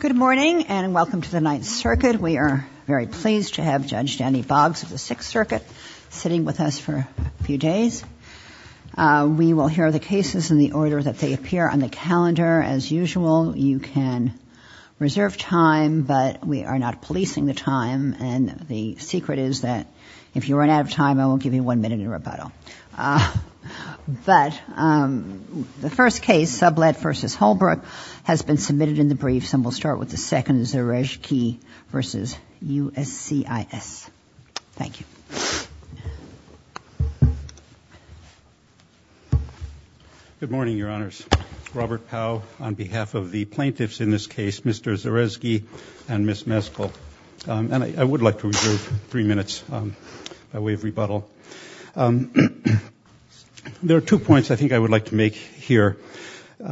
Good morning and welcome to the Ninth Circuit. We are very pleased to have Judge Danny Boggs of the Sixth Circuit sitting with us for a few days. We will hear the cases in the order that they appear on the calendar. As usual, you can reserve time, but we are not policing the time. And the secret is that if you run out of time, I won't give you one minute in rebuttal. But the first case, Sublett v. Holbrook, has been submitted in the briefs. And we'll start with the second, Zerezghi v. USCIS. Thank you. Good morning, Your Honors. Robert Powell on behalf of the plaintiffs in this case, Mr. Zerezghi and Ms. Meskel. And I would like to reserve three minutes by way of rebuttal. There are two points I think I would like to make here.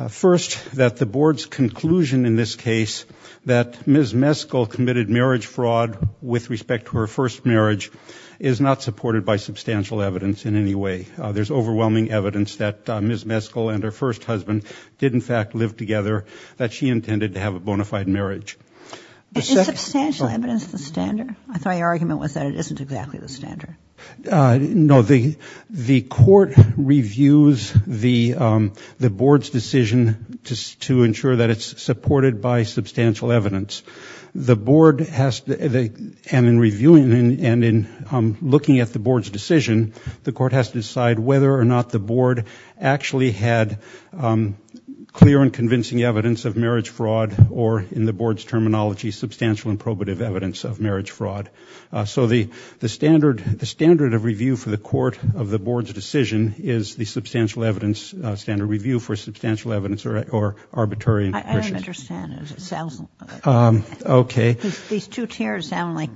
First, that the Board's conclusion in this case that Ms. Meskel committed marriage fraud with respect to her first marriage is not supported by substantial evidence in any way. There's overwhelming evidence that Ms. Meskel and her first husband did, in fact, live together, that she intended to have a bona fide marriage. Is substantial evidence the standard? I thought your argument was that it isn't exactly the standard. No, the Court reviews the Board's decision to ensure that it's supported by substantial evidence. The Board has to, and in reviewing and in looking at the Board's decision, the Court has to decide whether or not the Board actually had clear and convincing evidence of marriage fraud, or in the Board's terminology, substantial and probative evidence of marriage fraud. So the standard of review for the Court of the Board's decision is the substantial evidence, standard review for substantial evidence or arbitrary. I don't understand it. It sounds like these two tiers sound like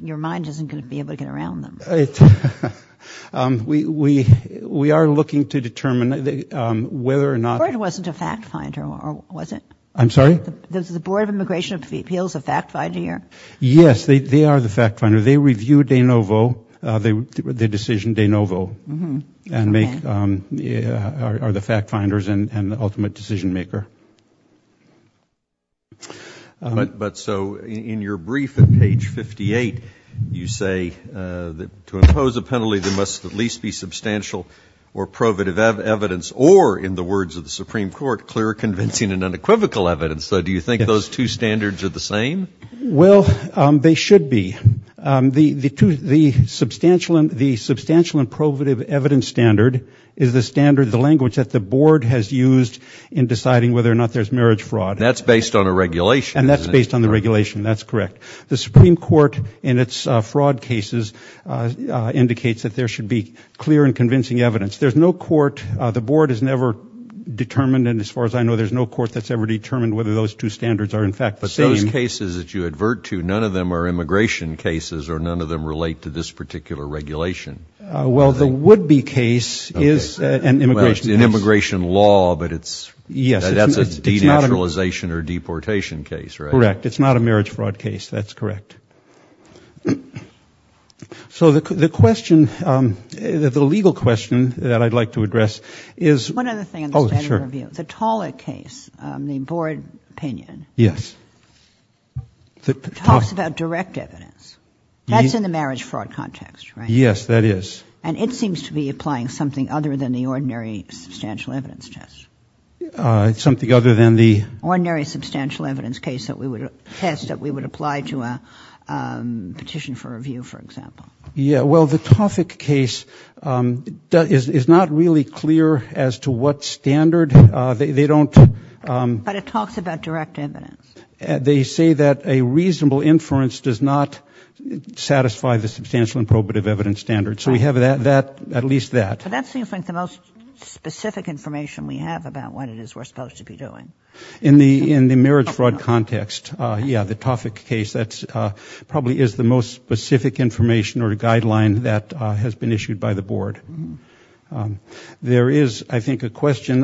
your mind isn't going to be able to get around them. We are looking to determine whether or not. The Board wasn't a fact finder, was it? I'm sorry? Does the Board of Immigration Appeals a fact finder here? Yes, they are the fact finder. They review de novo, the decision de novo, and make, are the fact finders and the ultimate decision maker. But so in your brief at page 58, you say that to impose a penalty, there must at least be substantial or probative evidence, or in the words of the Supreme Court, clear, convincing and unequivocal evidence. So do you think those two standards are the same? Well, they should be. The substantial and probative evidence standard is the standard, the language that the Board has used in deciding whether or not there's marriage fraud. That's based on a regulation. And that's based on the regulation. That's correct. The Supreme Court, in its fraud cases, indicates that there should be clear and convincing evidence. There's no court, the Board has never determined, and as far as I know, there's no court that's ever determined whether those two standards are in fact the same. But those cases that you advert to, none of them are immigration cases, or none of them relate to this particular regulation. Well, the would-be case is an immigration case. An immigration law, but it's, that's a denaturalization or deportation case, right? Correct. It's not a marriage fraud case. That's correct. So the question, the legal question that I'd like to address is. One other thing on the standard review. The Tollett case, the Board opinion. Yes. It talks about direct evidence. That's in the marriage fraud context, right? Yes, that is. And it seems to be applying something other than the ordinary substantial evidence test. It's something other than the. Ordinary substantial evidence case that we would test, that we would apply to a petition for review, for example. Yeah, well, the Toffik case is not really clear as to what standard. They don't. But it talks about direct evidence. They say that a reasonable inference does not satisfy the substantial and probative evidence standards. So we have that, at least that. But that seems like the most specific information we have about what it is we're supposed to be doing. In the marriage fraud context, yeah, the Toffik case. That probably is the most specific information or guideline that has been issued by the Board. There is, I think, a question.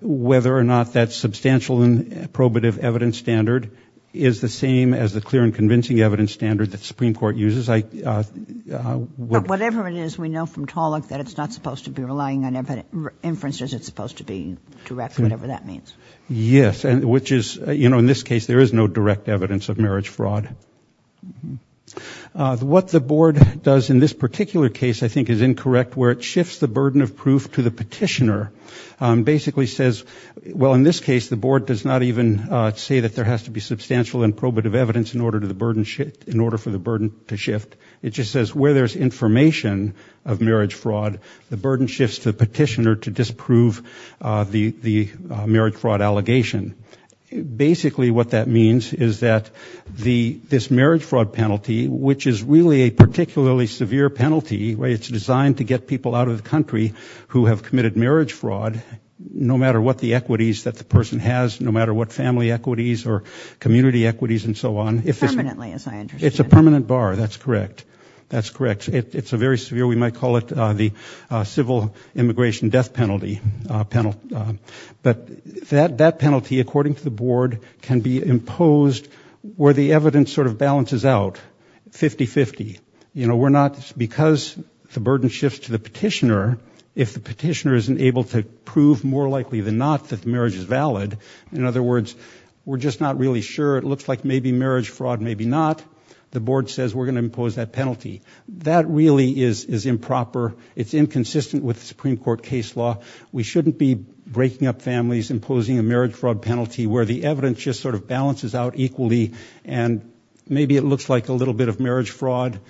Whether or not that substantial and probative evidence standard is the same as the clear and convincing evidence standard that the Supreme Court uses. Whatever it is, we know from Tollett that it's not supposed to be relying on inferences. It's supposed to be direct, whatever that means. Yes, and which is, you know, in this case, there is no direct evidence of marriage fraud. What the Board does in this particular case, I think, is incorrect, where it shifts the burden of proof to the petitioner. Basically says, well, in this case, the Board does not even say that there has to be substantial and probative evidence in order for the burden to shift. It just says where there's information of marriage fraud, the burden shifts to the petitioner to disprove the marriage fraud allegation. Basically, what that means is that this marriage fraud penalty, which is really a particularly severe penalty, it's designed to get people out of the country who have committed marriage fraud, no matter what the equities that the person has, no matter what family equities or community equities and so on. Permanently, as I understand. It's a permanent bar, that's correct. That's correct. It's a very severe, we might call it the civil immigration death penalty. But that penalty, according to the Board, can be imposed where the evidence sort of balances out, 50-50. You know, we're not, because the burden shifts to the petitioner, if the petitioner isn't able to prove more likely than not that the marriage is valid, in other words, we're just not really sure. It looks like maybe marriage fraud, maybe not. The Board says we're going to impose that penalty. That really is improper. It's inconsistent with the Supreme Court case law. We shouldn't be breaking up families, imposing a marriage fraud penalty where the evidence just sort of balances out equally, and maybe it looks like a little bit of marriage fraud,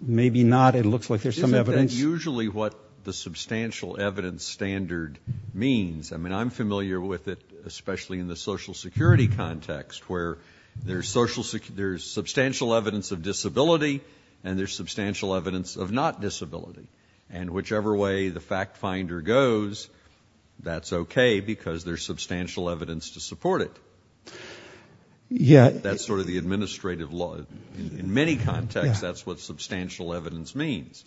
maybe not. It looks like there's some evidence. Isn't that usually what the substantial evidence standard means? I mean, I'm familiar with it, especially in the Social Security context, where there's substantial evidence of disability and there's substantial evidence of not disability. And whichever way the fact finder goes, that's okay because there's substantial evidence to support it. That's sort of the administrative law. In many contexts, that's what substantial evidence means.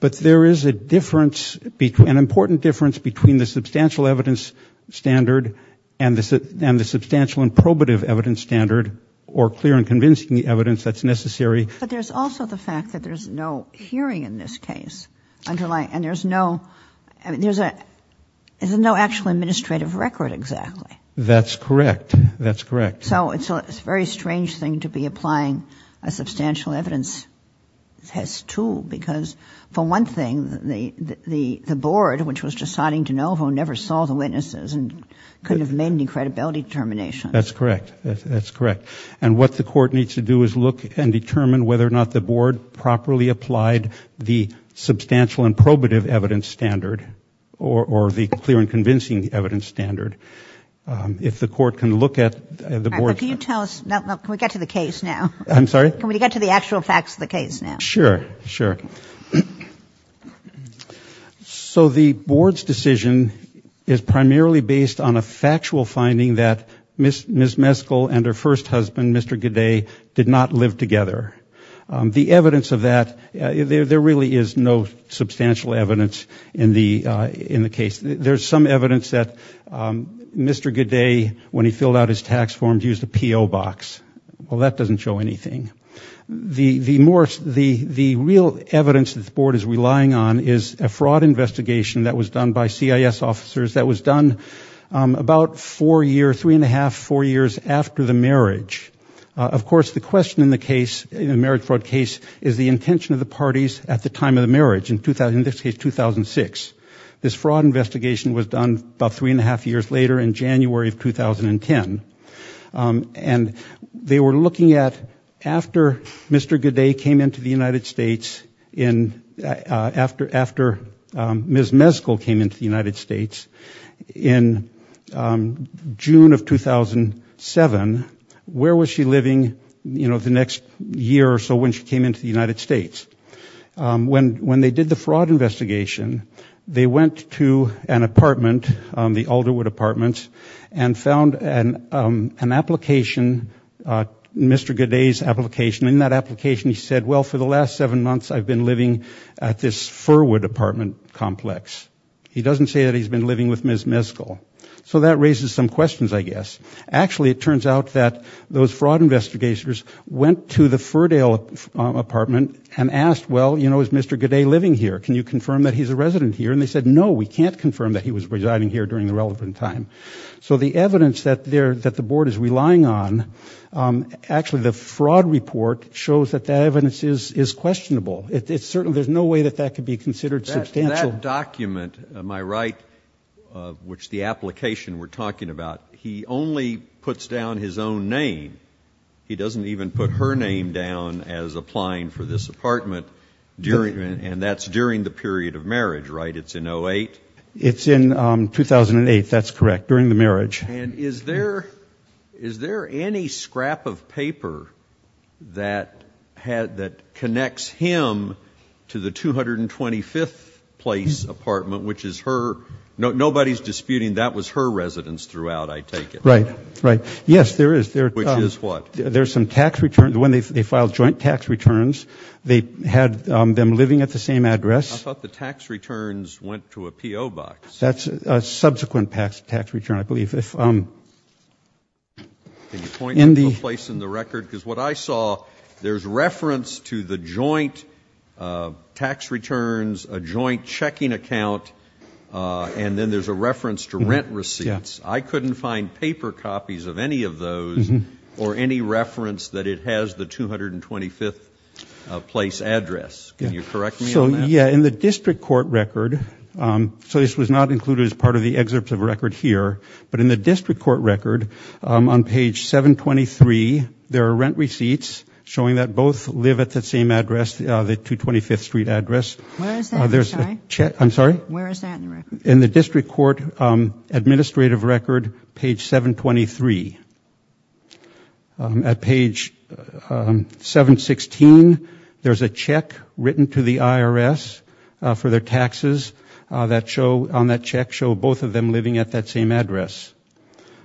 But there is a difference, an important difference between the substantial evidence standard and the substantial and probative evidence standard or clear and convincing evidence that's necessary. But there's also the fact that there's no hearing in this case. And there's no actual administrative record exactly. That's correct. That's correct. So it's a very strange thing to be applying a substantial evidence test too, because for one thing, the Board, which was just signing de novo, never saw the witnesses and couldn't have made any credibility determinations. That's correct. That's correct. And what the Court needs to do is look and determine whether or not the Board properly applied the substantial and probative evidence standard or the clear and convincing evidence standard. If the Court can look at the Board's... All right, but can you tell us, can we get to the case now? I'm sorry? Can we get to the actual facts of the case now? Sure, sure. So the Board's decision is primarily based on a factual finding that Ms. Meskel and her first husband, Mr. Godet, did not live together. The evidence of that, there really is no substantial evidence in the case. There's some evidence that Mr. Godet, when he filled out his tax forms, used a P.O. box. Well, that doesn't show anything. The real evidence that the Board is relying on is a fraud investigation that was done by CIS officers that was done about four years, three and a half, four years after the marriage. Of course, the question in the case, in the marriage fraud case, is the intention of the parties at the time of the marriage, in this case 2006. This fraud investigation was done about three and a half years later in January of 2010. And they were looking at, after Mr. Godet came into the United States, after Ms. Meskel came into the United States in June of 2007, where was she living the next year or so when she came into the United States? When they did the fraud investigation, they went to an apartment, the Alderwood Apartments, and found an application, Mr. Godet's application. In that application, he said, well, for the last seven months, I've been living at this Firwood apartment complex. He doesn't say that he's been living with Ms. Meskel. So that raises some questions, I guess. Actually, it turns out that those fraud investigators went to the Firdale apartment and asked, well, you know, is Mr. Godet living here? Can you confirm that he's a resident here? And they said, no, we can't confirm that he was residing here during the relevant time. So the evidence that the Board is relying on, actually, the fraud report shows that that evidence is questionable. There's no way that that could be considered substantial. That document, am I right, which the application we're talking about, he only puts down his own name. He doesn't even put her name down as applying for this apartment, and that's during the period of marriage, right? It's in 08? It's in 2008. That's correct, during the marriage. And is there any scrap of paper that connects him to the 225th Place apartment, which is her ‑‑ nobody's disputing that was her residence throughout, I take it. Right, right. Yes, there is. Which is what? There's some tax returns. When they filed joint tax returns, they had them living at the same address. I thought the tax returns went to a P.O. box. That's a subsequent tax return, I believe. Can you point to a place in the record? Because what I saw, there's reference to the joint tax returns, a joint checking account, and then there's a reference to rent receipts. I couldn't find paper copies of any of those or any reference that it has the 225th Place address. Can you correct me on that? So, yeah, in the district court record, so this was not included as part of the excerpt of record here, but in the district court record, on page 723, there are rent receipts showing that both live at the same address, the 225th Street address. Where is that, I'm sorry? I'm sorry? Where is that in the record? In the district court administrative record, page 723. At page 716, there's a check written to the IRS for their taxes that show, on that check show both of them living at that same address.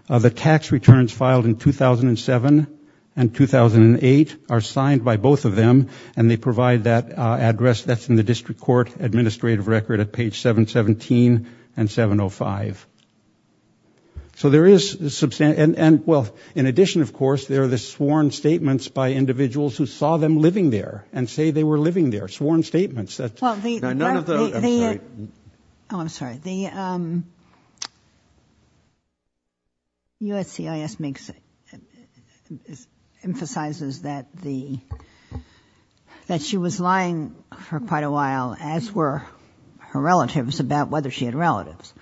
The tax returns filed in 2007 and 2008 are signed by both of them, and they provide that address that's in the district court administrative record at page 717 and 705. So there is, and well, in addition, of course, there are the sworn statements by individuals who saw them living there and say they were living there, sworn statements. None of the, I'm sorry. Oh, I'm sorry. The USCIS makes, emphasizes that the, that she was lying for quite a while, as were her relatives, about whether she had relatives.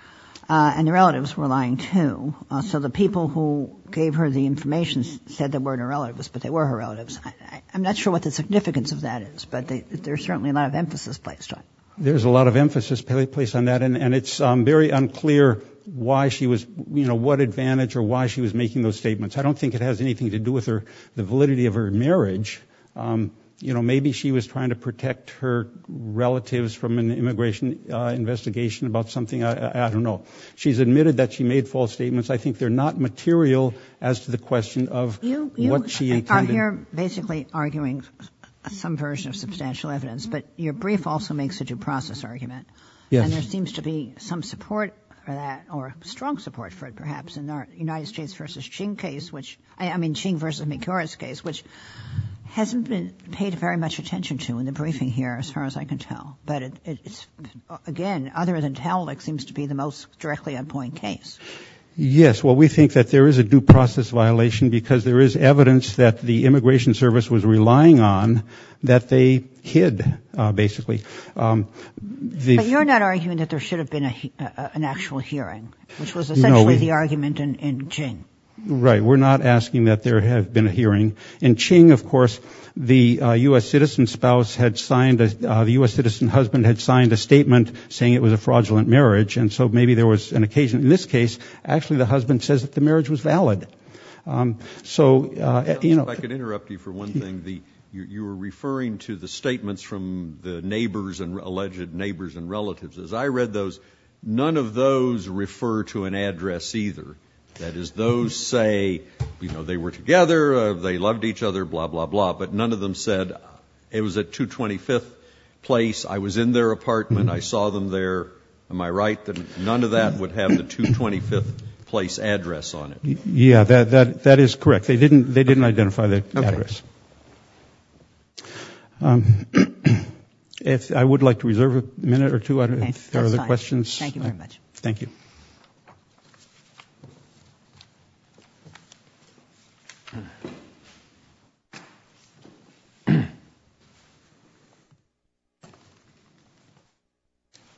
And the relatives were lying, too. So the people who gave her the information said they weren't her relatives, but they were her relatives. I'm not sure what the significance of that is, but there's certainly a lot of emphasis placed on it. There's a lot of emphasis placed on that, and it's very unclear why she was, you know, what advantage or why she was making those statements. I don't think it has anything to do with her, the validity of her marriage. You know, maybe she was trying to protect her relatives from an immigration investigation about something. I don't know. She's admitted that she made false statements. I think they're not material as to the question of what she intended. You are here basically arguing some version of substantial evidence, but your brief also makes a due process argument. Yes. And there seems to be some support for that, or strong support for it, perhaps, in the United States v. Ching case, which, I mean, Ching v. McIntyre's case, which hasn't been paid very much attention to in the briefing here, as far as I can tell. But it's, again, other than tell, it seems to be the most directly on point case. Yes. Well, we think that there is a due process violation because there is evidence that the immigration service was relying on that they hid, basically. But you're not arguing that there should have been an actual hearing, which was essentially the argument in Ching. Right. We're not asking that there have been a hearing. In Ching, of course, the U.S. citizen spouse had signed, the U.S. citizen husband had signed a statement saying it was a fraudulent marriage, and so maybe there was an occasion, in this case, actually the husband says that the marriage was valid. So, you know. If I could interrupt you for one thing. You were referring to the statements from the neighbors and alleged neighbors and relatives. As I read those, none of those refer to an address either. That is, those say, you know, they were together, they loved each other, blah, blah, blah. But none of them said, it was at 225th Place, I was in their apartment, I saw them there. Am I right that none of that would have the 225th Place address on it? Yeah, that is correct. They didn't identify the address. I would like to reserve a minute or two if there are other questions. Okay, that's fine. Thank you very much. Thank you.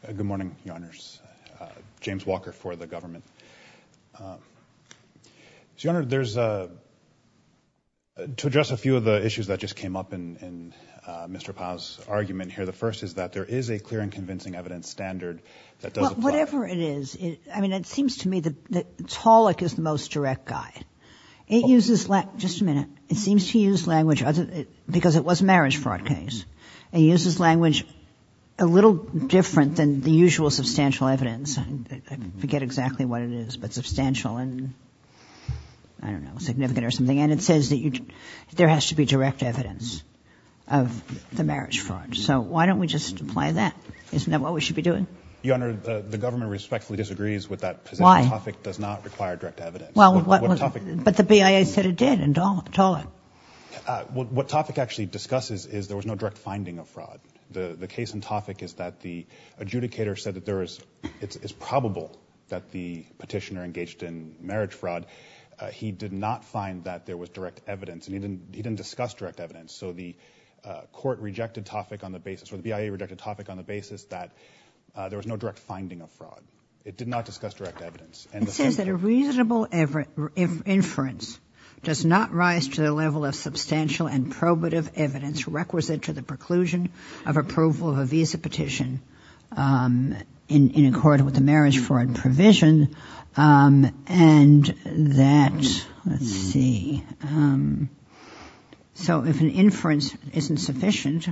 Good morning, Your Honors. James Walker for the government. Your Honor, there's, to address a few of the issues that just came up in Mr. Powell's argument here, the first is that there is a clear and convincing evidence standard that does apply. Whatever it is, I mean, it seems to me that Tolick is the most direct guy. It uses, just a minute, it seems to use language, because it was a marriage fraud case, it uses language a little different than the usual substantial evidence. I forget exactly what it is, but substantial and, I don't know, significant or something. And it says that there has to be direct evidence of the marriage fraud. So why don't we just apply that? Isn't that what we should be doing? Your Honor, the government respectfully disagrees with that position. Why? TOFIC does not require direct evidence. But the BIA said it did in Tolick. What TOFIC actually discusses is there was no direct finding of fraud. The case in TOFIC is that the adjudicator said that it's probable that the petitioner engaged in marriage fraud. He did not find that there was direct evidence, and he didn't discuss direct evidence. So the court rejected TOFIC on the basis, or the BIA rejected TOFIC on the basis that there was no direct finding of fraud. It did not discuss direct evidence. It says that a reasonable inference does not rise to the level of substantial and probative evidence requisite to the preclusion of approval of a visa petition in accord with the marriage fraud provision. And that, let's see. So if an inference isn't sufficient,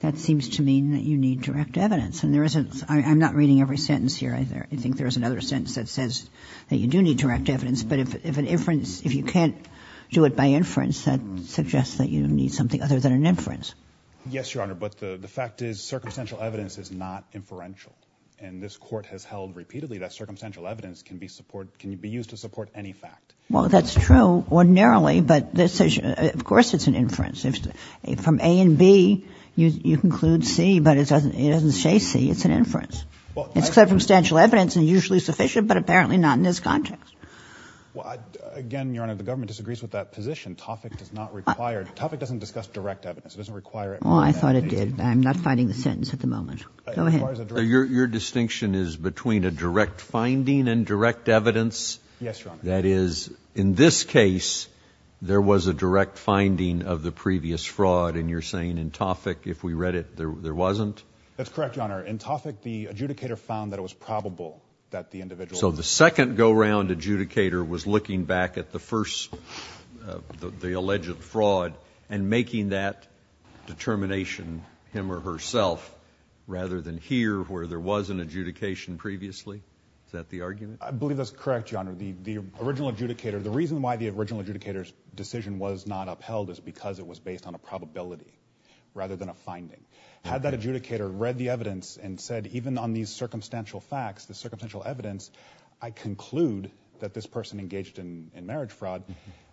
that seems to mean that you need direct evidence. And there isn't. I'm not reading every sentence here either. I think there's another sentence that says that you do need direct evidence. But if an inference, if you can't do it by inference, that suggests that you need something other than an inference. Yes, Your Honor. But the fact is, circumstantial evidence is not inferential. And this court has held repeatedly that circumstantial evidence can be used to support any fact. Well, that's true ordinarily, but of course it's an inference. From A and B, you conclude C, but it doesn't say C. It's an inference. It's circumstantial evidence and usually sufficient, but apparently not in this context. Well, again, Your Honor, the government disagrees with that position. TOFIC does not require it. TOFIC doesn't discuss direct evidence. It doesn't require it. Well, I thought it did. I'm not finding the sentence at the moment. Go ahead. Your distinction is between a direct finding and direct evidence? Yes, Your Honor. That is, in this case, there was a direct finding of the previous fraud. And you're saying in TOFIC, if we read it, there wasn't? That's correct, Your Honor. In TOFIC, the adjudicator found that it was probable that the individual. So the second go-round adjudicator was looking back at the alleged fraud and making that determination him or herself rather than here where there was an adjudication previously? Is that the argument? I believe that's correct, Your Honor. The original adjudicator, the reason why the original adjudicator's decision was not upheld is because it was based on a probability rather than a finding. Had that adjudicator read the evidence and said even on these circumstantial facts, the circumstantial evidence, I conclude that this person engaged in marriage fraud,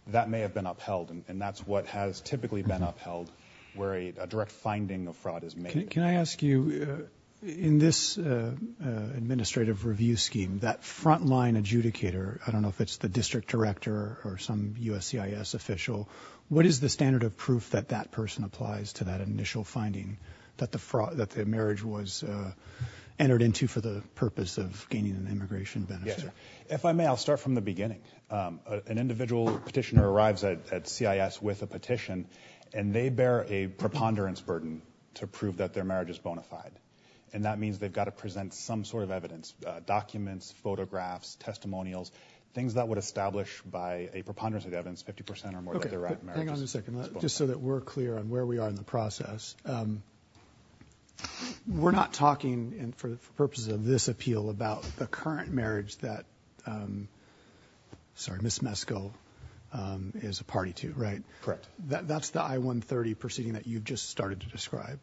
that may have been upheld. And that's what has typically been upheld where a direct finding of fraud is made. Can I ask you, in this administrative review scheme, that frontline adjudicator, I don't know if it's the district director or some USCIS official, what is the standard of proof that that person applies to that initial finding that the marriage was entered into for the purpose of gaining an immigration benefit? If I may, I'll start from the beginning. An individual petitioner arrives at CIS with a petition, and they bear a preponderance burden to prove that their marriage is bona fide. And that means they've got to present some sort of evidence, documents, photographs, testimonials, things that would establish by a preponderance of evidence 50% or more that their marriage is bona fide. Wait a second. Just so that we're clear on where we are in the process. We're not talking, for purposes of this appeal, about the current marriage that Ms. Meskel is a party to, right? Correct. That's the I-130 proceeding that you just started to describe.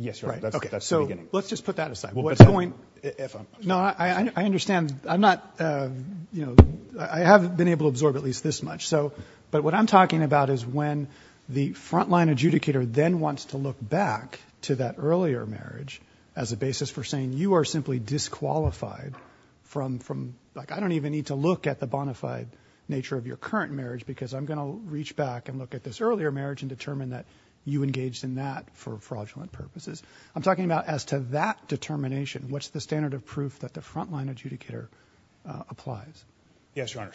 Yes, Your Honor. That's the beginning. Let's just put that aside. No, I understand. I'm not, you know, I haven't been able to absorb at least this much. But what I'm talking about is when the frontline adjudicator then wants to look back to that earlier marriage as a basis for saying you are simply disqualified from, like, I don't even need to look at the bona fide nature of your current marriage because I'm going to reach back and look at this earlier marriage and determine that you engaged in that for fraudulent purposes. I'm talking about as to that determination. What's the standard of proof that the frontline adjudicator applies? Yes, Your Honor.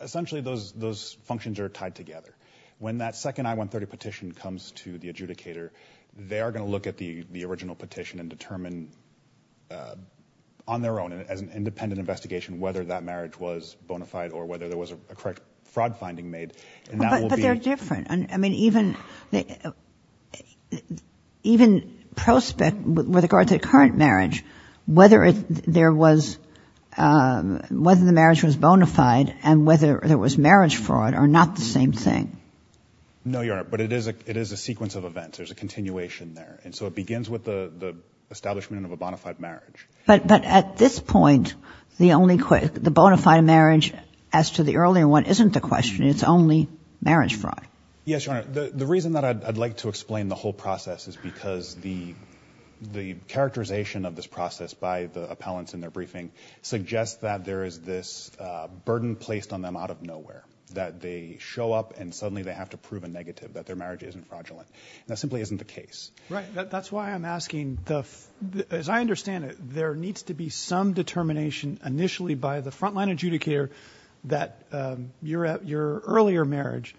Essentially, those functions are tied together. When that second I-130 petition comes to the adjudicator, they are going to look at the original petition and determine on their own, as an independent investigation, whether that marriage was bona fide or whether there was a correct fraud finding made. But they're different. I mean, even prospect, with regards to the current marriage, whether there was, whether the marriage was bona fide and whether there was marriage fraud are not the same thing. No, Your Honor. But it is a sequence of events. There's a continuation there. And so it begins with the establishment of a bona fide marriage. But at this point, the bona fide marriage, as to the earlier one, isn't the question. It's only marriage fraud. Yes, Your Honor. The reason that I'd like to explain the whole process is because the appellants in their briefing suggest that there is this burden placed on them out of nowhere, that they show up and suddenly they have to prove a negative, that their marriage isn't fraudulent. That simply isn't the case. Right. That's why I'm asking. As I understand it, there needs to be some determination initially by the frontline adjudicator that your earlier marriage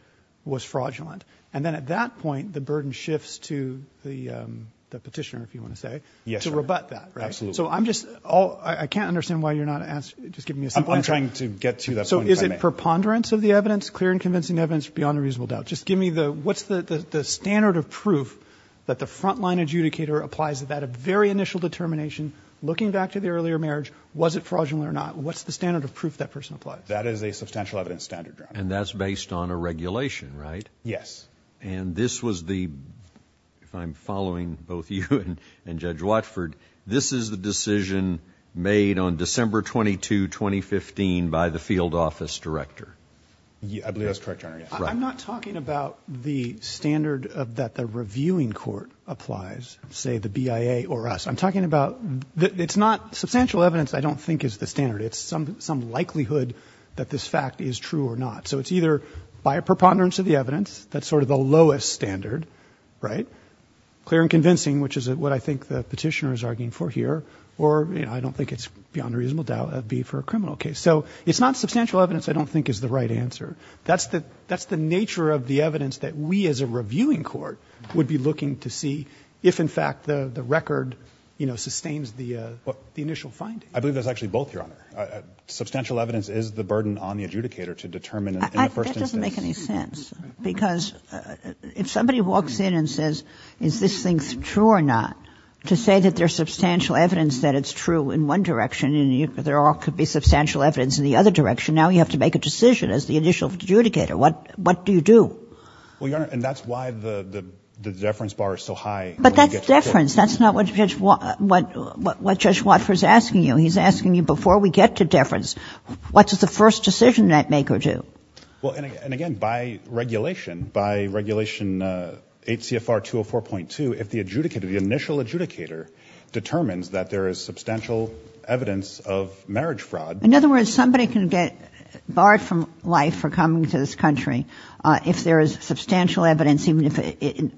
was fraudulent. And then at that point, the burden shifts to the petitioner, if you want to say, to rebut that, right? Absolutely. So I'm just all – I can't understand why you're not – just give me a simple answer. I'm trying to get to that point. So is it preponderance of the evidence, clear and convincing evidence beyond a reasonable doubt? Just give me the – what's the standard of proof that the frontline adjudicator applies at that very initial determination, looking back to the earlier marriage, was it fraudulent or not? What's the standard of proof that person applies? That is a substantial evidence standard, Your Honor. And that's based on a regulation, right? Yes. And this was the – if I'm following both you and Judge Watford, this is the decision made on December 22, 2015 by the field office director. I believe that's correct, Your Honor. I'm not talking about the standard that the reviewing court applies, say the BIA or us. I'm talking about – it's not substantial evidence I don't think is the standard. It's some likelihood that this fact is true or not. So it's either by a preponderance of the evidence, that's sort of the lowest standard, right? Clear and convincing, which is what I think the petitioner is arguing for here, or I don't think it's beyond a reasonable doubt it would be for a criminal case. So it's not substantial evidence I don't think is the right answer. That's the nature of the evidence that we as a reviewing court would be looking to see if in fact the record sustains the initial finding. I believe that's actually both, Your Honor. Substantial evidence is the burden on the adjudicator to determine in the first instance. That doesn't make any sense, because if somebody walks in and says is this thing true or not, to say that there's substantial evidence that it's true in one direction and there could be substantial evidence in the other direction, now you have to make a decision as the initial adjudicator. What do you do? Well, Your Honor, and that's why the deference bar is so high. But that's deference. That's not what Judge Watford is asking you. He's asking you before we get to deference, what does the first decision that maker do? Well, and again, by regulation, by regulation 8 CFR 204.2, if the adjudicator, the initial adjudicator determines that there is substantial evidence of marriage fraud. In other words, somebody can get barred from life for coming to this country if there is substantial evidence,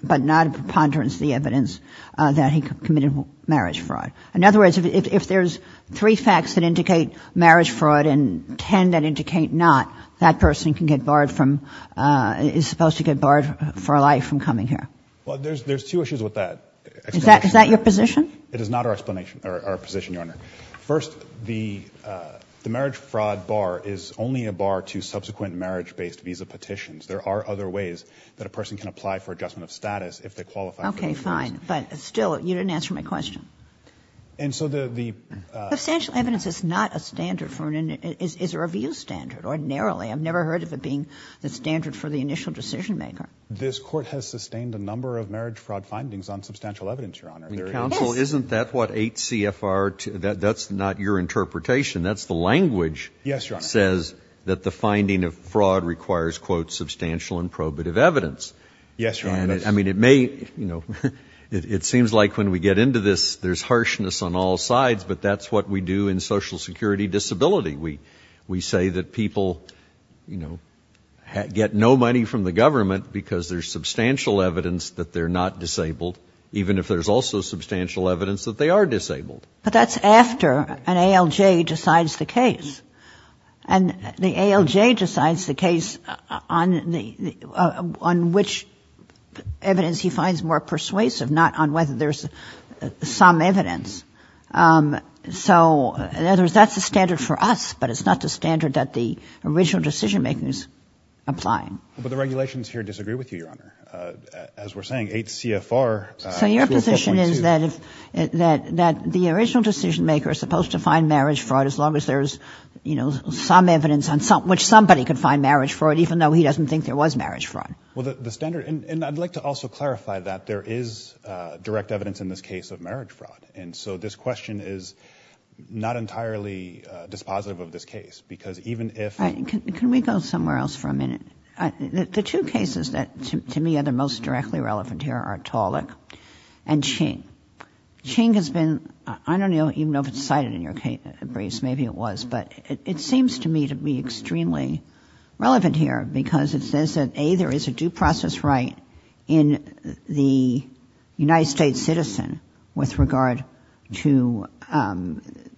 but not preponderance of the evidence that he committed marriage fraud. In other words, if there's three facts that indicate marriage fraud and ten that indicate not, that person can get barred from, is supposed to get barred for life from coming here. Well, there's two issues with that. Is that your position? It is not our position, Your Honor. First, the marriage fraud bar is only a bar to subsequent marriage-based visa petitions. There are other ways that a person can apply for adjustment of status if they qualify for those things. Okay, fine. But still, you didn't answer my question. And so the, the ---- Substantial evidence is not a standard for an, is a review standard. Ordinarily, I've never heard of it being the standard for the initial decision maker. This Court has sustained a number of marriage fraud findings on substantial evidence, Your Honor. Yes. Counsel, isn't that what 8 CFR, that's not your interpretation. That's the language ---- Yes, Your Honor. ---- says that the finding of fraud requires, quote, substantial and probative evidence. Yes, Your Honor. And, I mean, it may, you know, it seems like when we get into this, there's harshness on all sides, but that's what we do in Social Security Disability. We, we say that people, you know, get no money from the government because there's substantial evidence that they're not disabled, even if there's also substantial evidence that they are disabled. But that's after an ALJ decides the case. And the ALJ decides the case on the, on which evidence he finds more persuasive, not on whether there's some evidence. So, in other words, that's the standard for us, but it's not the standard that the original decision maker is applying. But the regulations here disagree with you, Your Honor. As we're saying, 8 CFR, 2 of 5.2. So your position is that if, that, that the original decision maker is supposed to find marriage fraud, as long as there's, you know, some evidence on some, which somebody could find marriage fraud, even though he doesn't think there was marriage fraud. Well, the, the standard, and, and I'd like to also clarify that there is direct evidence in this case of marriage fraud. And so this question is not entirely dispositive of this case, because even if Right. Can, can we go somewhere else for a minute? The, the two cases that to, to me are the most directly relevant here are Tolick and Ching. Ching has been, I don't even know if it's cited in your briefs, maybe it was, but it, it seems to me to be extremely relevant here, because it says that A, there is a due process right in the United States citizen with regard to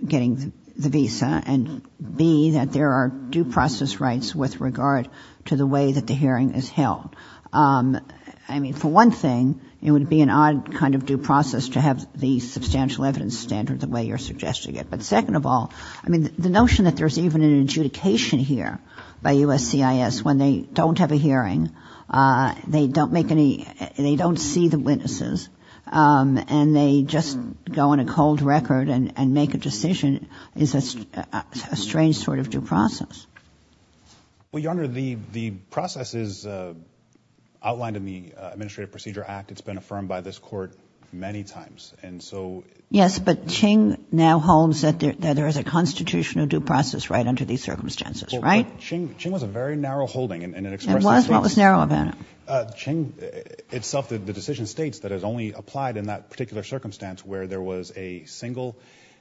getting the visa, and B, that there are due process rights with regard to the way that the hearing is held. I mean, for one thing, it would be an odd kind of due process to have the substantial evidence standard the way you're suggesting it. But second of all, I mean, the notion that there's even an adjudication here by USCIS when they don't have a hearing, they don't make any, they don't see the witnesses, and they just go on a cold record and, and make a decision is a, a strange sort of due process. Well, Your Honor, the, the process is outlined in the Administrative Procedure Act. It's been affirmed by this court many times. And so. Yes, but Ching now holds that there, that there is a constitutional due process right under these circumstances, right? Well, but Ching, Ching was a very narrow holding, and it expresses. It was? What was narrow about it? Ching itself, the decision states that it's only applied in that particular circumstance where there was a single,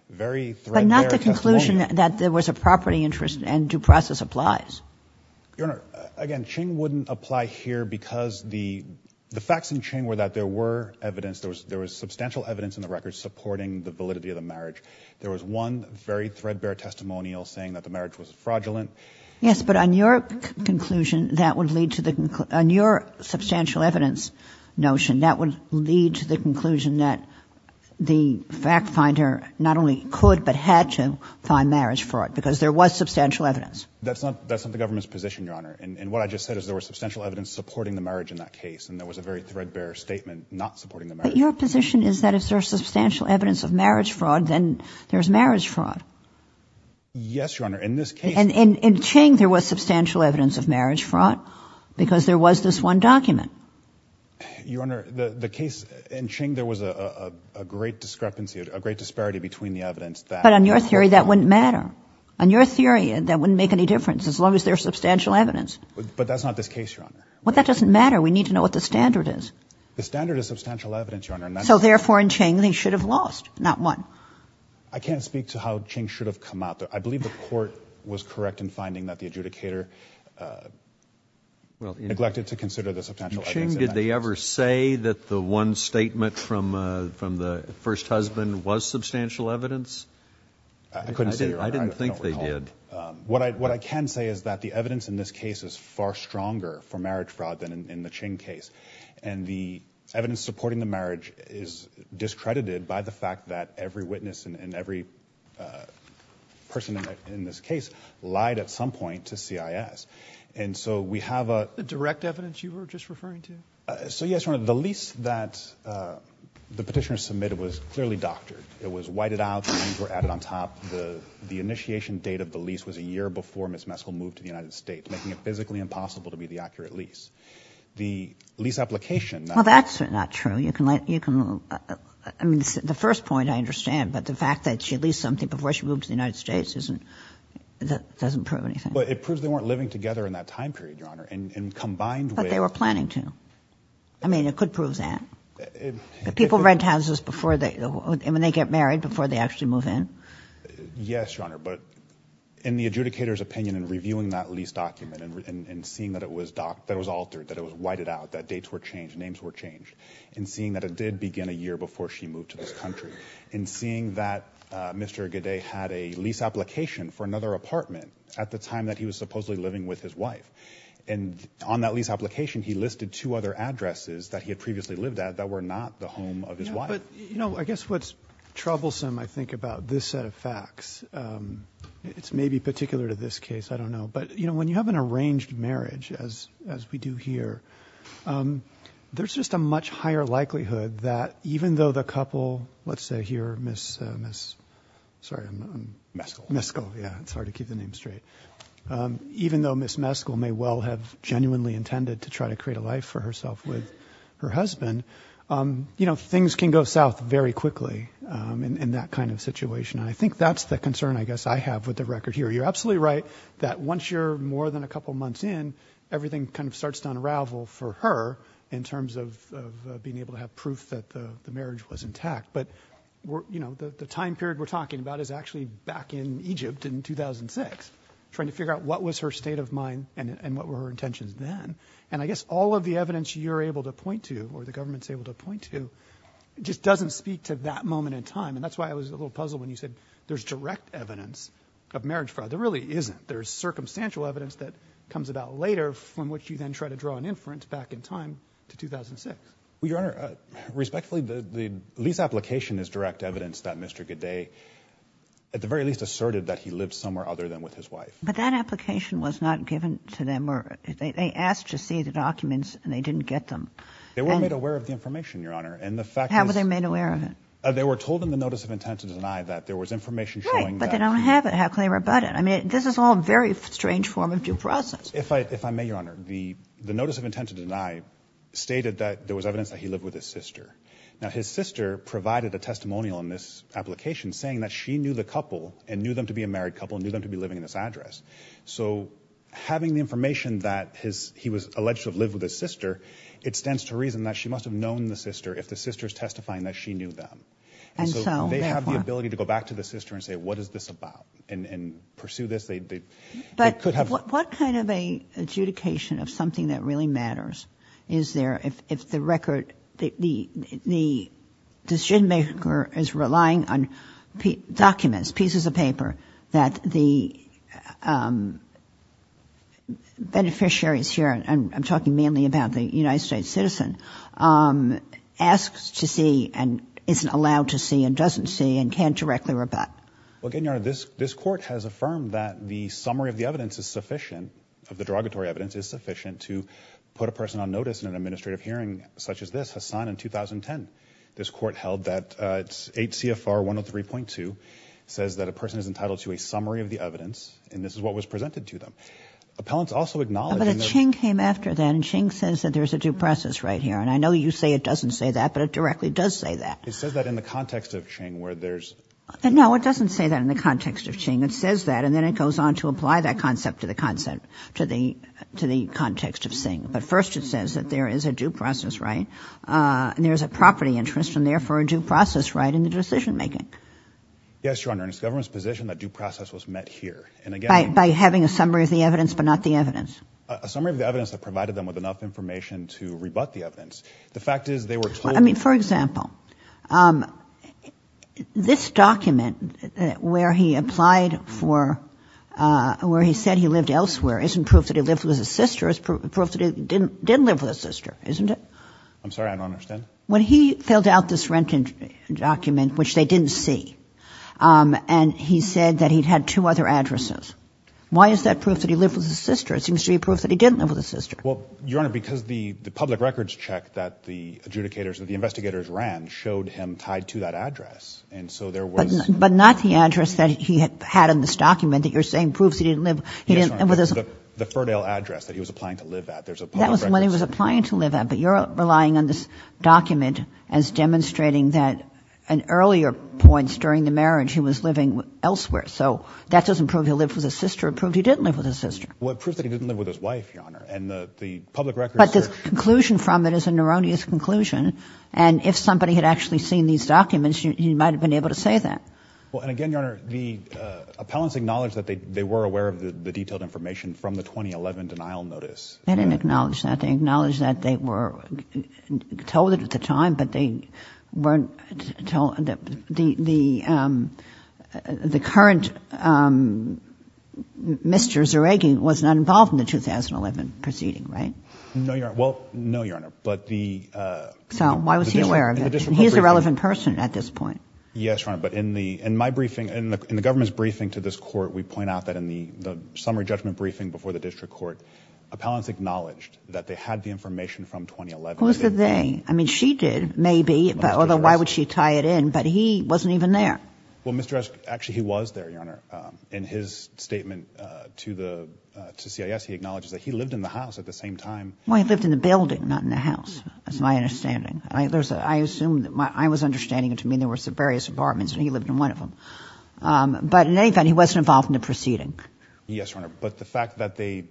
very threadbare testimony. The notion that there was a property interest and due process applies. Your Honor, again, Ching wouldn't apply here because the, the facts in Ching were that there were evidence, there was, there was substantial evidence in the record supporting the validity of the marriage. There was one very threadbare testimonial saying that the marriage was fraudulent. Yes, but on your conclusion, that would lead to the, on your substantial evidence notion, that would lead to the conclusion that the fact finder not only could, but had to find marriage fraud because there was substantial evidence. That's not, that's not the government's position, Your Honor. And, and what I just said is there was substantial evidence supporting the marriage in that case. And there was a very threadbare statement not supporting the marriage. But your position is that if there's substantial evidence of marriage fraud, then there's marriage fraud. Yes, Your Honor. In this case. And, and, and Ching, there was substantial evidence of marriage fraud because there was this one document. Your Honor, the, the case in Ching, there was a, a, a, a great discrepancy, a great disparity between the evidence that. But on your theory, that wouldn't matter. On your theory, that wouldn't make any difference as long as there's substantial evidence. But that's not this case, Your Honor. Well, that doesn't matter. We need to know what the standard is. The standard is substantial evidence, Your Honor. So therefore, in Ching, they should have lost, not won. I can't speak to how Ching should have come out. I believe the court was correct in finding that the adjudicator neglected to consider the substantial evidence. In Ching, did they ever say that the one statement from, uh, from the first husband was substantial evidence? I couldn't say, Your Honor. I didn't think they did. Um, what I, what I can say is that the evidence in this case is far stronger for marriage fraud than in, in the Ching case. And the evidence supporting the marriage is discredited by the fact that every witness and, and every, uh, person in, in this case lied at some point to CIS. And so we have a. Is that the direct evidence you were just referring to? Uh, so yes, Your Honor. The lease that, uh, the petitioner submitted was clearly doctored. It was whited out. The names were added on top. The, the initiation date of the lease was a year before Ms. Meskel moved to the United States, making it physically impossible to be the accurate lease. The lease application. Well, that's not true. You can let, you can, uh, I mean, the first point I understand. But the fact that she leased something before she moved to the United States isn't, that doesn't prove anything. But it proves they weren't living together in that time period, Your Honor. And, and combined with. But they were planning to. I mean, it could prove that. People rent houses before they, when they get married, before they actually move in. Yes, Your Honor. But in the adjudicator's opinion and reviewing that lease document and, and seeing that it was doctored, that it was altered, that it was whited out, that dates were changed, names were changed. And seeing that it did begin a year before she moved to this country. And seeing that, uh, Mr. Gaudet had a lease application for another apartment at the time that he was supposedly living with his wife. And on that lease application, he listed two other addresses that he had previously lived at that were not the home of his wife. Yeah, but, you know, I guess what's troublesome, I think, about this set of facts, um, it's maybe particular to this case, I don't know. But, you know, when you have an arranged marriage, as, as we do here, um, there's just a much higher likelihood that even though the couple, let's say here, Miss, uh, Miss, sorry, I'm, I'm. Meskel. Meskel, yeah, it's hard to keep the name straight. Um, even though Miss Meskel may well have genuinely intended to try to create a life for herself with her husband, um, you know, things can go south very quickly, um, in, in that kind of situation. And I think that's the concern, I guess, I have with the record here. You're absolutely right that once you're more than a couple months in, everything kind of starts to unravel for her in terms of, of, uh, being able to have proof that the, the marriage was intact. But we're, you know, the, the time period we're talking about is actually back in Egypt in 2006, trying to figure out what was her state of mind and, and what were her intentions then. And I guess all of the evidence you're able to point to, or the government's able to point to, just doesn't speak to that moment in time. And that's why I was a little puzzled when you said there's direct evidence of marriage fraud. There really isn't. There's circumstantial evidence that comes about later from which you then try to draw an inference back in time to 2006. Well, Your Honor, respectfully, the, the lease application is direct evidence that Mr. Godet, at the very least, asserted that he lived somewhere other than with his wife. But that application was not given to them, or they, they asked to see the documents and they didn't get them. They weren't made aware of the information, Your Honor. And the fact is... How were they made aware of it? They were told in the notice of intent to deny that there was information showing that... Right, but they don't have it. How can they rebut it? I mean, this is all a very strange form of due process. If I, if I may, Your Honor, the, the notice of intent to deny stated that there was evidence that he lived with his sister. Now, his sister provided a testimonial in this application saying that she knew the couple and knew them to be a married couple and knew them to be living in this address. So, having the information that his, he was alleged to have lived with his sister, it stands to reason that she must have known the sister if the sister is testifying that she knew them. And so, they have the ability to go back to the sister and say, what is this about? And, and pursue this, they, they, they could have... Is there any expectation of something that really matters? Is there, if, if the record, the, the, the decision-maker is relying on documents, pieces of paper, that the beneficiaries here, and I'm talking mainly about the United States citizen, asks to see and isn't allowed to see and doesn't see and can't directly rebut? Well, again, Your Honor, this, this court has affirmed that the summary of the evidence is sufficient, of the derogatory evidence, is sufficient to put a person on notice in an administrative hearing such as this. Hassan, in 2010, this court held that 8 CFR 103.2 says that a person is entitled to a summary of the evidence, and this is what was presented to them. Appellants also acknowledge... But a ching came after that, and ching says that there's a due process right here, and I know you say it doesn't say that, but it directly does say that. It says that in the context of ching where there's... No, it doesn't say that in the context of ching. It says that and then it goes on to apply that concept to the context of ching. But first it says that there is a due process right and there's a property interest and therefore a due process right in the decision making. Yes, Your Honor, and it's the government's position that due process was met here. By having a summary of the evidence but not the evidence. A summary of the evidence that provided them with enough information to rebut the evidence. The fact is they were told... I mean, for example, this document where he said he lived elsewhere isn't proof that he lived with his sister. It's proof that he didn't live with his sister, isn't it? I'm sorry, I don't understand. When he filled out this rent document, which they didn't see, and he said that he'd had two other addresses, why is that proof that he lived with his sister? It seems to be proof that he didn't live with his sister. Well, Your Honor, because the public records check that the adjudicators, that the investigators ran showed him tied to that address, and so there was... But not the address that he had in this document that you're saying proves he didn't live... Yes, Your Honor, the Ferdale address that he was applying to live at. That was the one he was applying to live at, but you're relying on this document as demonstrating that in earlier points during the marriage he was living elsewhere. So that doesn't prove he lived with his sister. It proved he didn't live with his sister. Well, it proves that he didn't live with his wife, Your Honor, and the public records... But the conclusion from it is a neuroneous conclusion, and if somebody had actually seen these documents, he might have been able to say that. Well, and again, Your Honor, the appellants acknowledged that they were aware of the detailed information from the 2011 denial notice. They didn't acknowledge that. They acknowledged that they were told at the time, but they weren't told that the current Mr. Zeragin was not involved in the 2011 proceeding, right? No, Your Honor. Well, no, Your Honor, but the... So why was he aware of it? He's a relevant person at this point. Yes, Your Honor, but in my briefing, in the government's briefing to this court, we point out that in the summary judgment briefing before the district court, appellants acknowledged that they had the information from 2011. Who said they? I mean, she did, maybe, although why would she tie it in? But he wasn't even there. Well, Mr. Resch, actually, he was there, Your Honor. In his statement to CIS, he acknowledges that he lived in the house at the same time. Well, he lived in the building, not in the house. That's my understanding. I assume that my... I was understanding it to mean there were various apartments, and he lived in one of them. But in any event, he wasn't involved in the proceeding. Yes, Your Honor, but the fact that they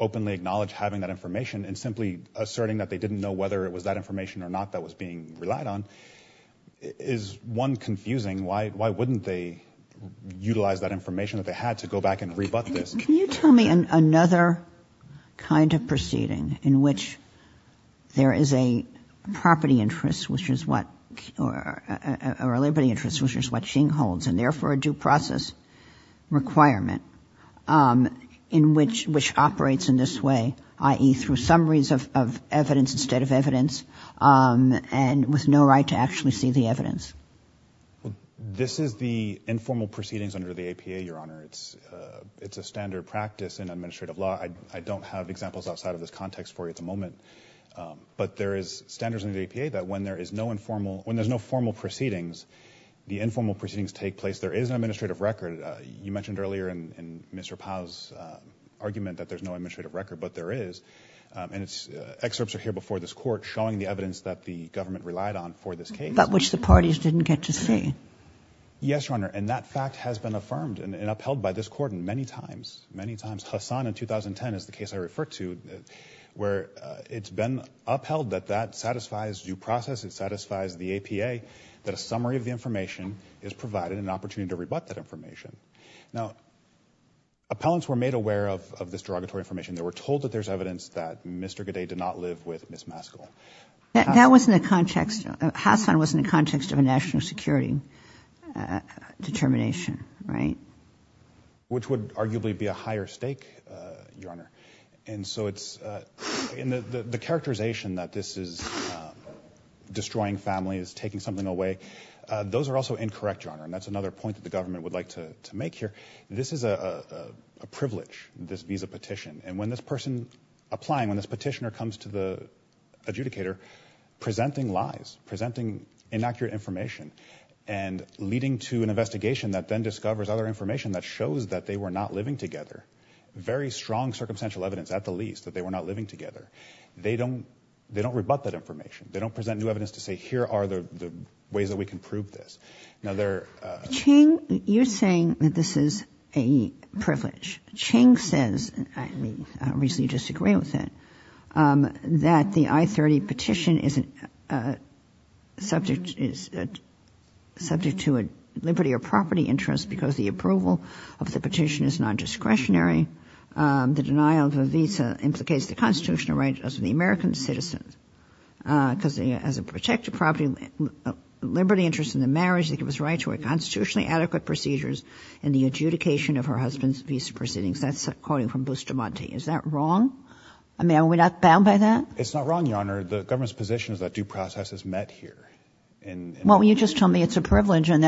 openly acknowledged having that information and simply asserting that they didn't know whether it was that information or not that was being relied on is, one, confusing. Why wouldn't they utilize that information that they had to go back and rebut this? Can you tell me another kind of proceeding in which there is a property interest, which is what... or a liberty interest, which is what Xing holds, and therefore a due process requirement, in which operates in this way, i.e. through summaries of evidence instead of evidence, and with no right to actually see the evidence? Well, this is the informal proceedings under the APA, Your Honor. It's a standard practice in administrative law. I don't have examples outside of this context for you at the moment. But there is standards in the APA that when there is no informal... You mentioned earlier in Mr. Powell's argument that there's no administrative record, but there is. And excerpts are here before this court showing the evidence that the government relied on for this case. That which the parties didn't get to see. Yes, Your Honor, and that fact has been affirmed and upheld by this court many times, many times. Hassan in 2010 is the case I referred to where it's been upheld that that satisfies due process, it satisfies the APA, that a summary of the information is provided and an opportunity to rebut that information. Now, appellants were made aware of this derogatory information. They were told that there's evidence that Mr. Godet did not live with Ms. Maskell. That was in the context... Hassan was in the context of a national security determination, right? Which would arguably be a higher stake, Your Honor. And so it's... The characterization that this is destroying families, taking something away, those are also incorrect, Your Honor. And that's another point that the government would like to make here. This is a privilege, this visa petition. And when this person applying, when this petitioner comes to the adjudicator, presenting lies, presenting inaccurate information, and leading to an investigation that then discovers other information that shows that they were not living together. Very strong circumstantial evidence, at the least, that they were not living together. They don't rebut that information. They don't present new evidence to say, here are the ways that we can prove this. Now, they're... Chang, you're saying that this is a privilege. Chang says, and I recently disagreed with him, that the I-30 petition is subject to a liberty or property interest because the approval of the petition is non-discretionary. The denial of a visa implicates the constitutional right of the American citizen. Because as a protected property, liberty interest in the marriage, they give us right to a constitutionally adequate procedures in the adjudication of her husband's visa proceedings. That's quoting from Bustamante. Is that wrong? I mean, are we not bound by that? It's not wrong, Your Honor. The government's position is that due process is met here. Well, you just told me it's a privilege and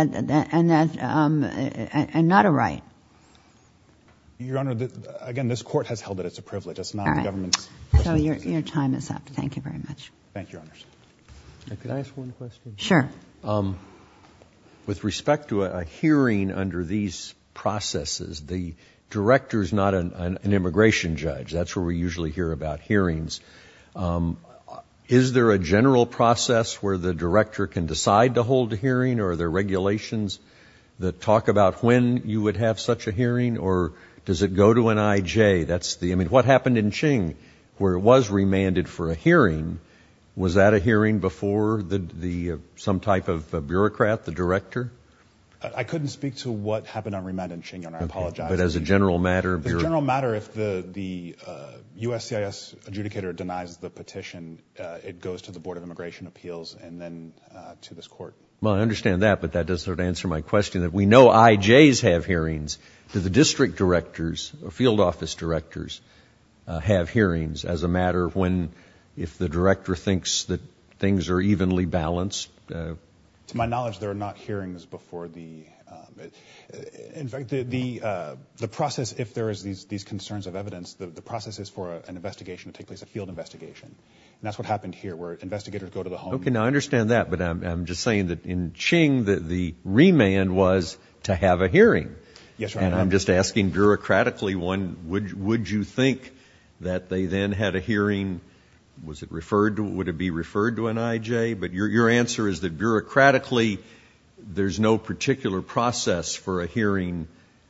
not a right. Your Honor, again, this court has held that it's a privilege. It's not the government's position. All right. So your time is up. Thank you very much. Thank you, Your Honor. Can I ask one question? Sure. With respect to a hearing under these processes, the director is not an immigration judge. That's where we usually hear about hearings. Is there a general process where the director can decide to hold a hearing? Or are there regulations that talk about when you would have such a hearing? Or does it go to an IJ? I mean, what happened in Qing where it was remanded for a hearing? Was that a hearing before some type of bureaucrat, the director? I couldn't speak to what happened on remand in Qing, Your Honor. I apologize. But as a general matter? As a general matter, if the USCIS adjudicator denies the petition, it goes to the Board of Immigration Appeals and then to this court. Well, I understand that, but that doesn't answer my question. We know IJs have hearings. Do the district directors or field office directors have hearings as a matter of when, if the director thinks that things are evenly balanced? To my knowledge, there are not hearings before the – In fact, the process, if there is these concerns of evidence, the process is for an investigation to take place, a field investigation. And that's what happened here where investigators go to the home. Okay. Now, I understand that. But I'm just saying that in Qing, the remand was to have a hearing. Yes, Your Honor. And I'm just asking bureaucratically, would you think that they then had a hearing? Was it referred to – would it be referred to an IJ? But your answer is that bureaucratically, there's no particular process for a hearing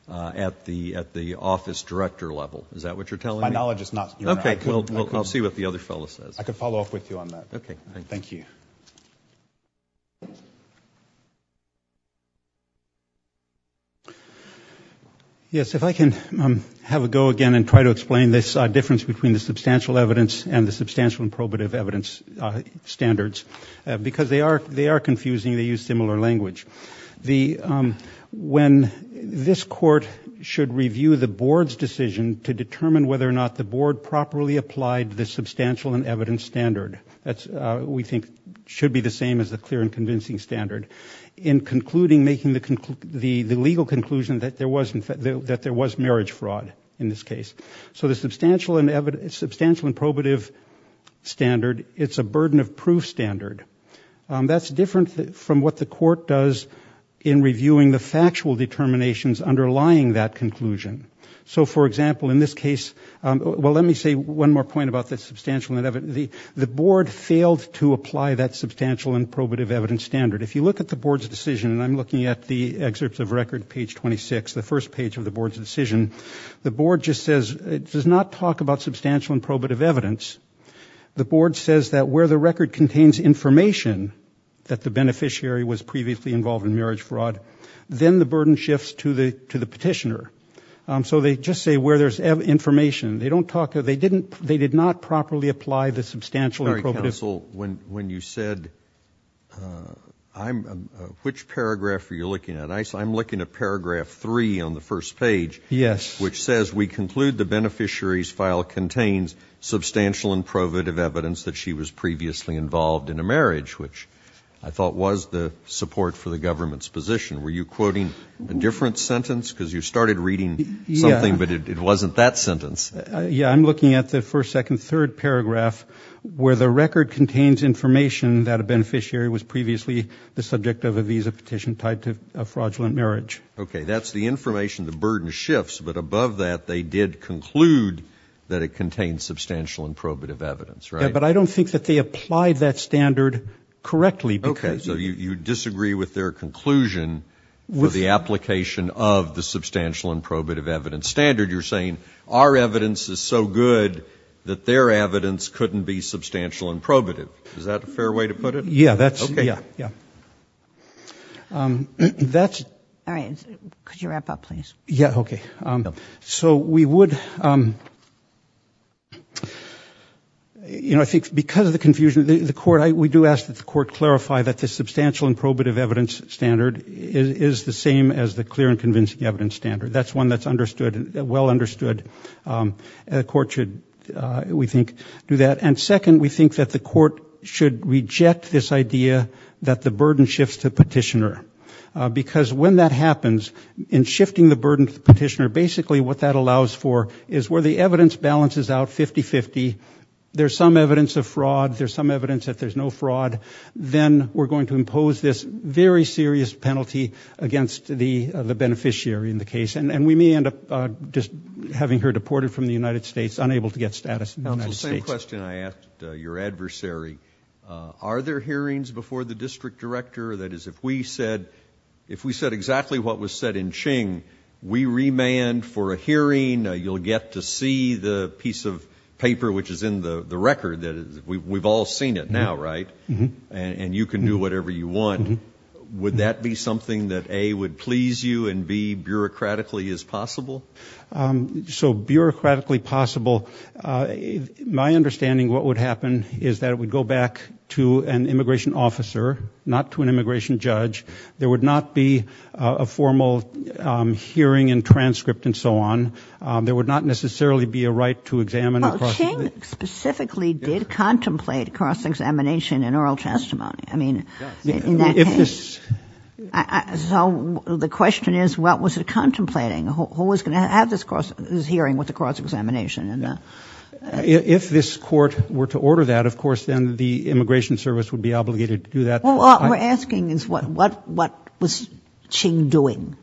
at the office director level. Is that what you're telling me? My knowledge is not, Your Honor. Okay. I'll see what the other fellow says. I can follow up with you on that. Okay. Thank you. Yes, if I can have a go again and try to explain this difference between the substantial evidence and the substantial and probative evidence standards. Because they are confusing. They use similar language. When this court should review the board's decision to determine whether or not the board properly applied the substantial and evidence standard, that we think should be the same as the clear and convincing standard, in concluding, making the legal conclusion that there was marriage fraud in this case. So the substantial and probative standard, it's a burden of proof standard. That's different from what the court does in reviewing the factual determinations underlying that conclusion. So, for example, in this case, well, let me say one more point about the substantial. The board failed to apply that substantial and probative evidence standard. If you look at the board's decision, and I'm looking at the excerpts of record, page 26, the first page of the board's decision, the board just says it does not talk about substantial and probative evidence. The board says that where the record contains information that the beneficiary was previously involved in marriage fraud, then the burden shifts to the petitioner. So they just say where there's information. They don't talk, they did not properly apply the substantial and probative. Counsel, when you said, which paragraph are you looking at? I'm looking at paragraph three on the first page. Yes. Which says, we conclude the beneficiary's file contains substantial and probative evidence that she was previously involved in a marriage, which I thought was the support for the government's position. Were you quoting a different sentence? Because you started reading something, but it wasn't that sentence. Yeah, I'm looking at the first, second, third paragraph, where the record contains information that a beneficiary was previously the subject of a visa petition tied to a fraudulent marriage. Okay, that's the information, the burden shifts. But above that, they did conclude that it contained substantial and probative evidence, right? Yeah, but I don't think that they applied that standard correctly. Okay, so you disagree with their conclusion for the application of the substantial and probative evidence standard. You're saying our evidence is so good that their evidence couldn't be substantial and probative. Is that a fair way to put it? Yeah, that's, yeah. Okay. All right, could you wrap up, please? Yeah, okay. So we would, you know, I think because of the confusion, the court, we do ask that the court clarify that the substantial and probative evidence standard is the same as the clear and convincing evidence standard. That's one that's understood, well understood. The court should, we think, do that. And second, we think that the court should reject this idea that the burden shifts to petitioner. Because when that happens, in shifting the burden to petitioner, basically what that allows for is where the evidence balances out 50-50, there's some evidence of fraud, there's some evidence that there's no fraud, then we're going to impose this very serious penalty against the beneficiary in the case. And we may end up just having her deported from the United States, unable to get status in the United States. So same question I asked your adversary. Are there hearings before the district director? That is, if we said exactly what was said in Ching, we remand for a hearing, you'll get to see the piece of paper which is in the record. We've all seen it now, right? And you can do whatever you want. Would that be something that, A, would please you, and, B, bureaucratically is possible? So bureaucratically possible. My understanding of what would happen is that it would go back to an immigration officer, not to an immigration judge. There would not be a formal hearing and transcript and so on. There would not necessarily be a right to examine. Well, Ching specifically did contemplate cross-examination and oral testimony. I mean, in that case. So the question is, what was it contemplating? Who was going to have this hearing with the cross-examination? If this court were to order that, of course, then the Immigration Service would be obligated to do that. Well, what we're asking is what was Ching doing?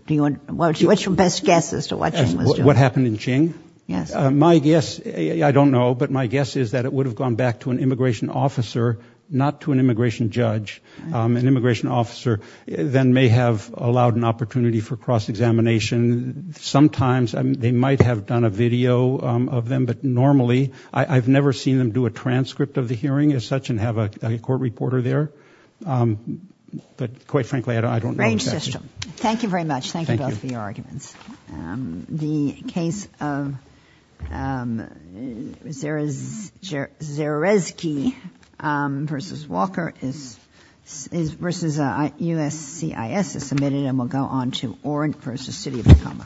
What's your best guess as to what Ching was doing? What happened in Ching? Yes. My guess, I don't know, but my guess is that it would have gone back to an immigration officer, not to an immigration judge. An immigration officer then may have allowed an opportunity for cross-examination. Sometimes they might have done a video of them, but normally I've never seen them do a transcript of the hearing as such and have a court reporter there. But quite frankly, I don't know. Thank you very much. Thank you both for your arguments. The case of Zerezky versus Walker versus USCIS is submitted, and we'll go on to Orant versus City of Tacoma.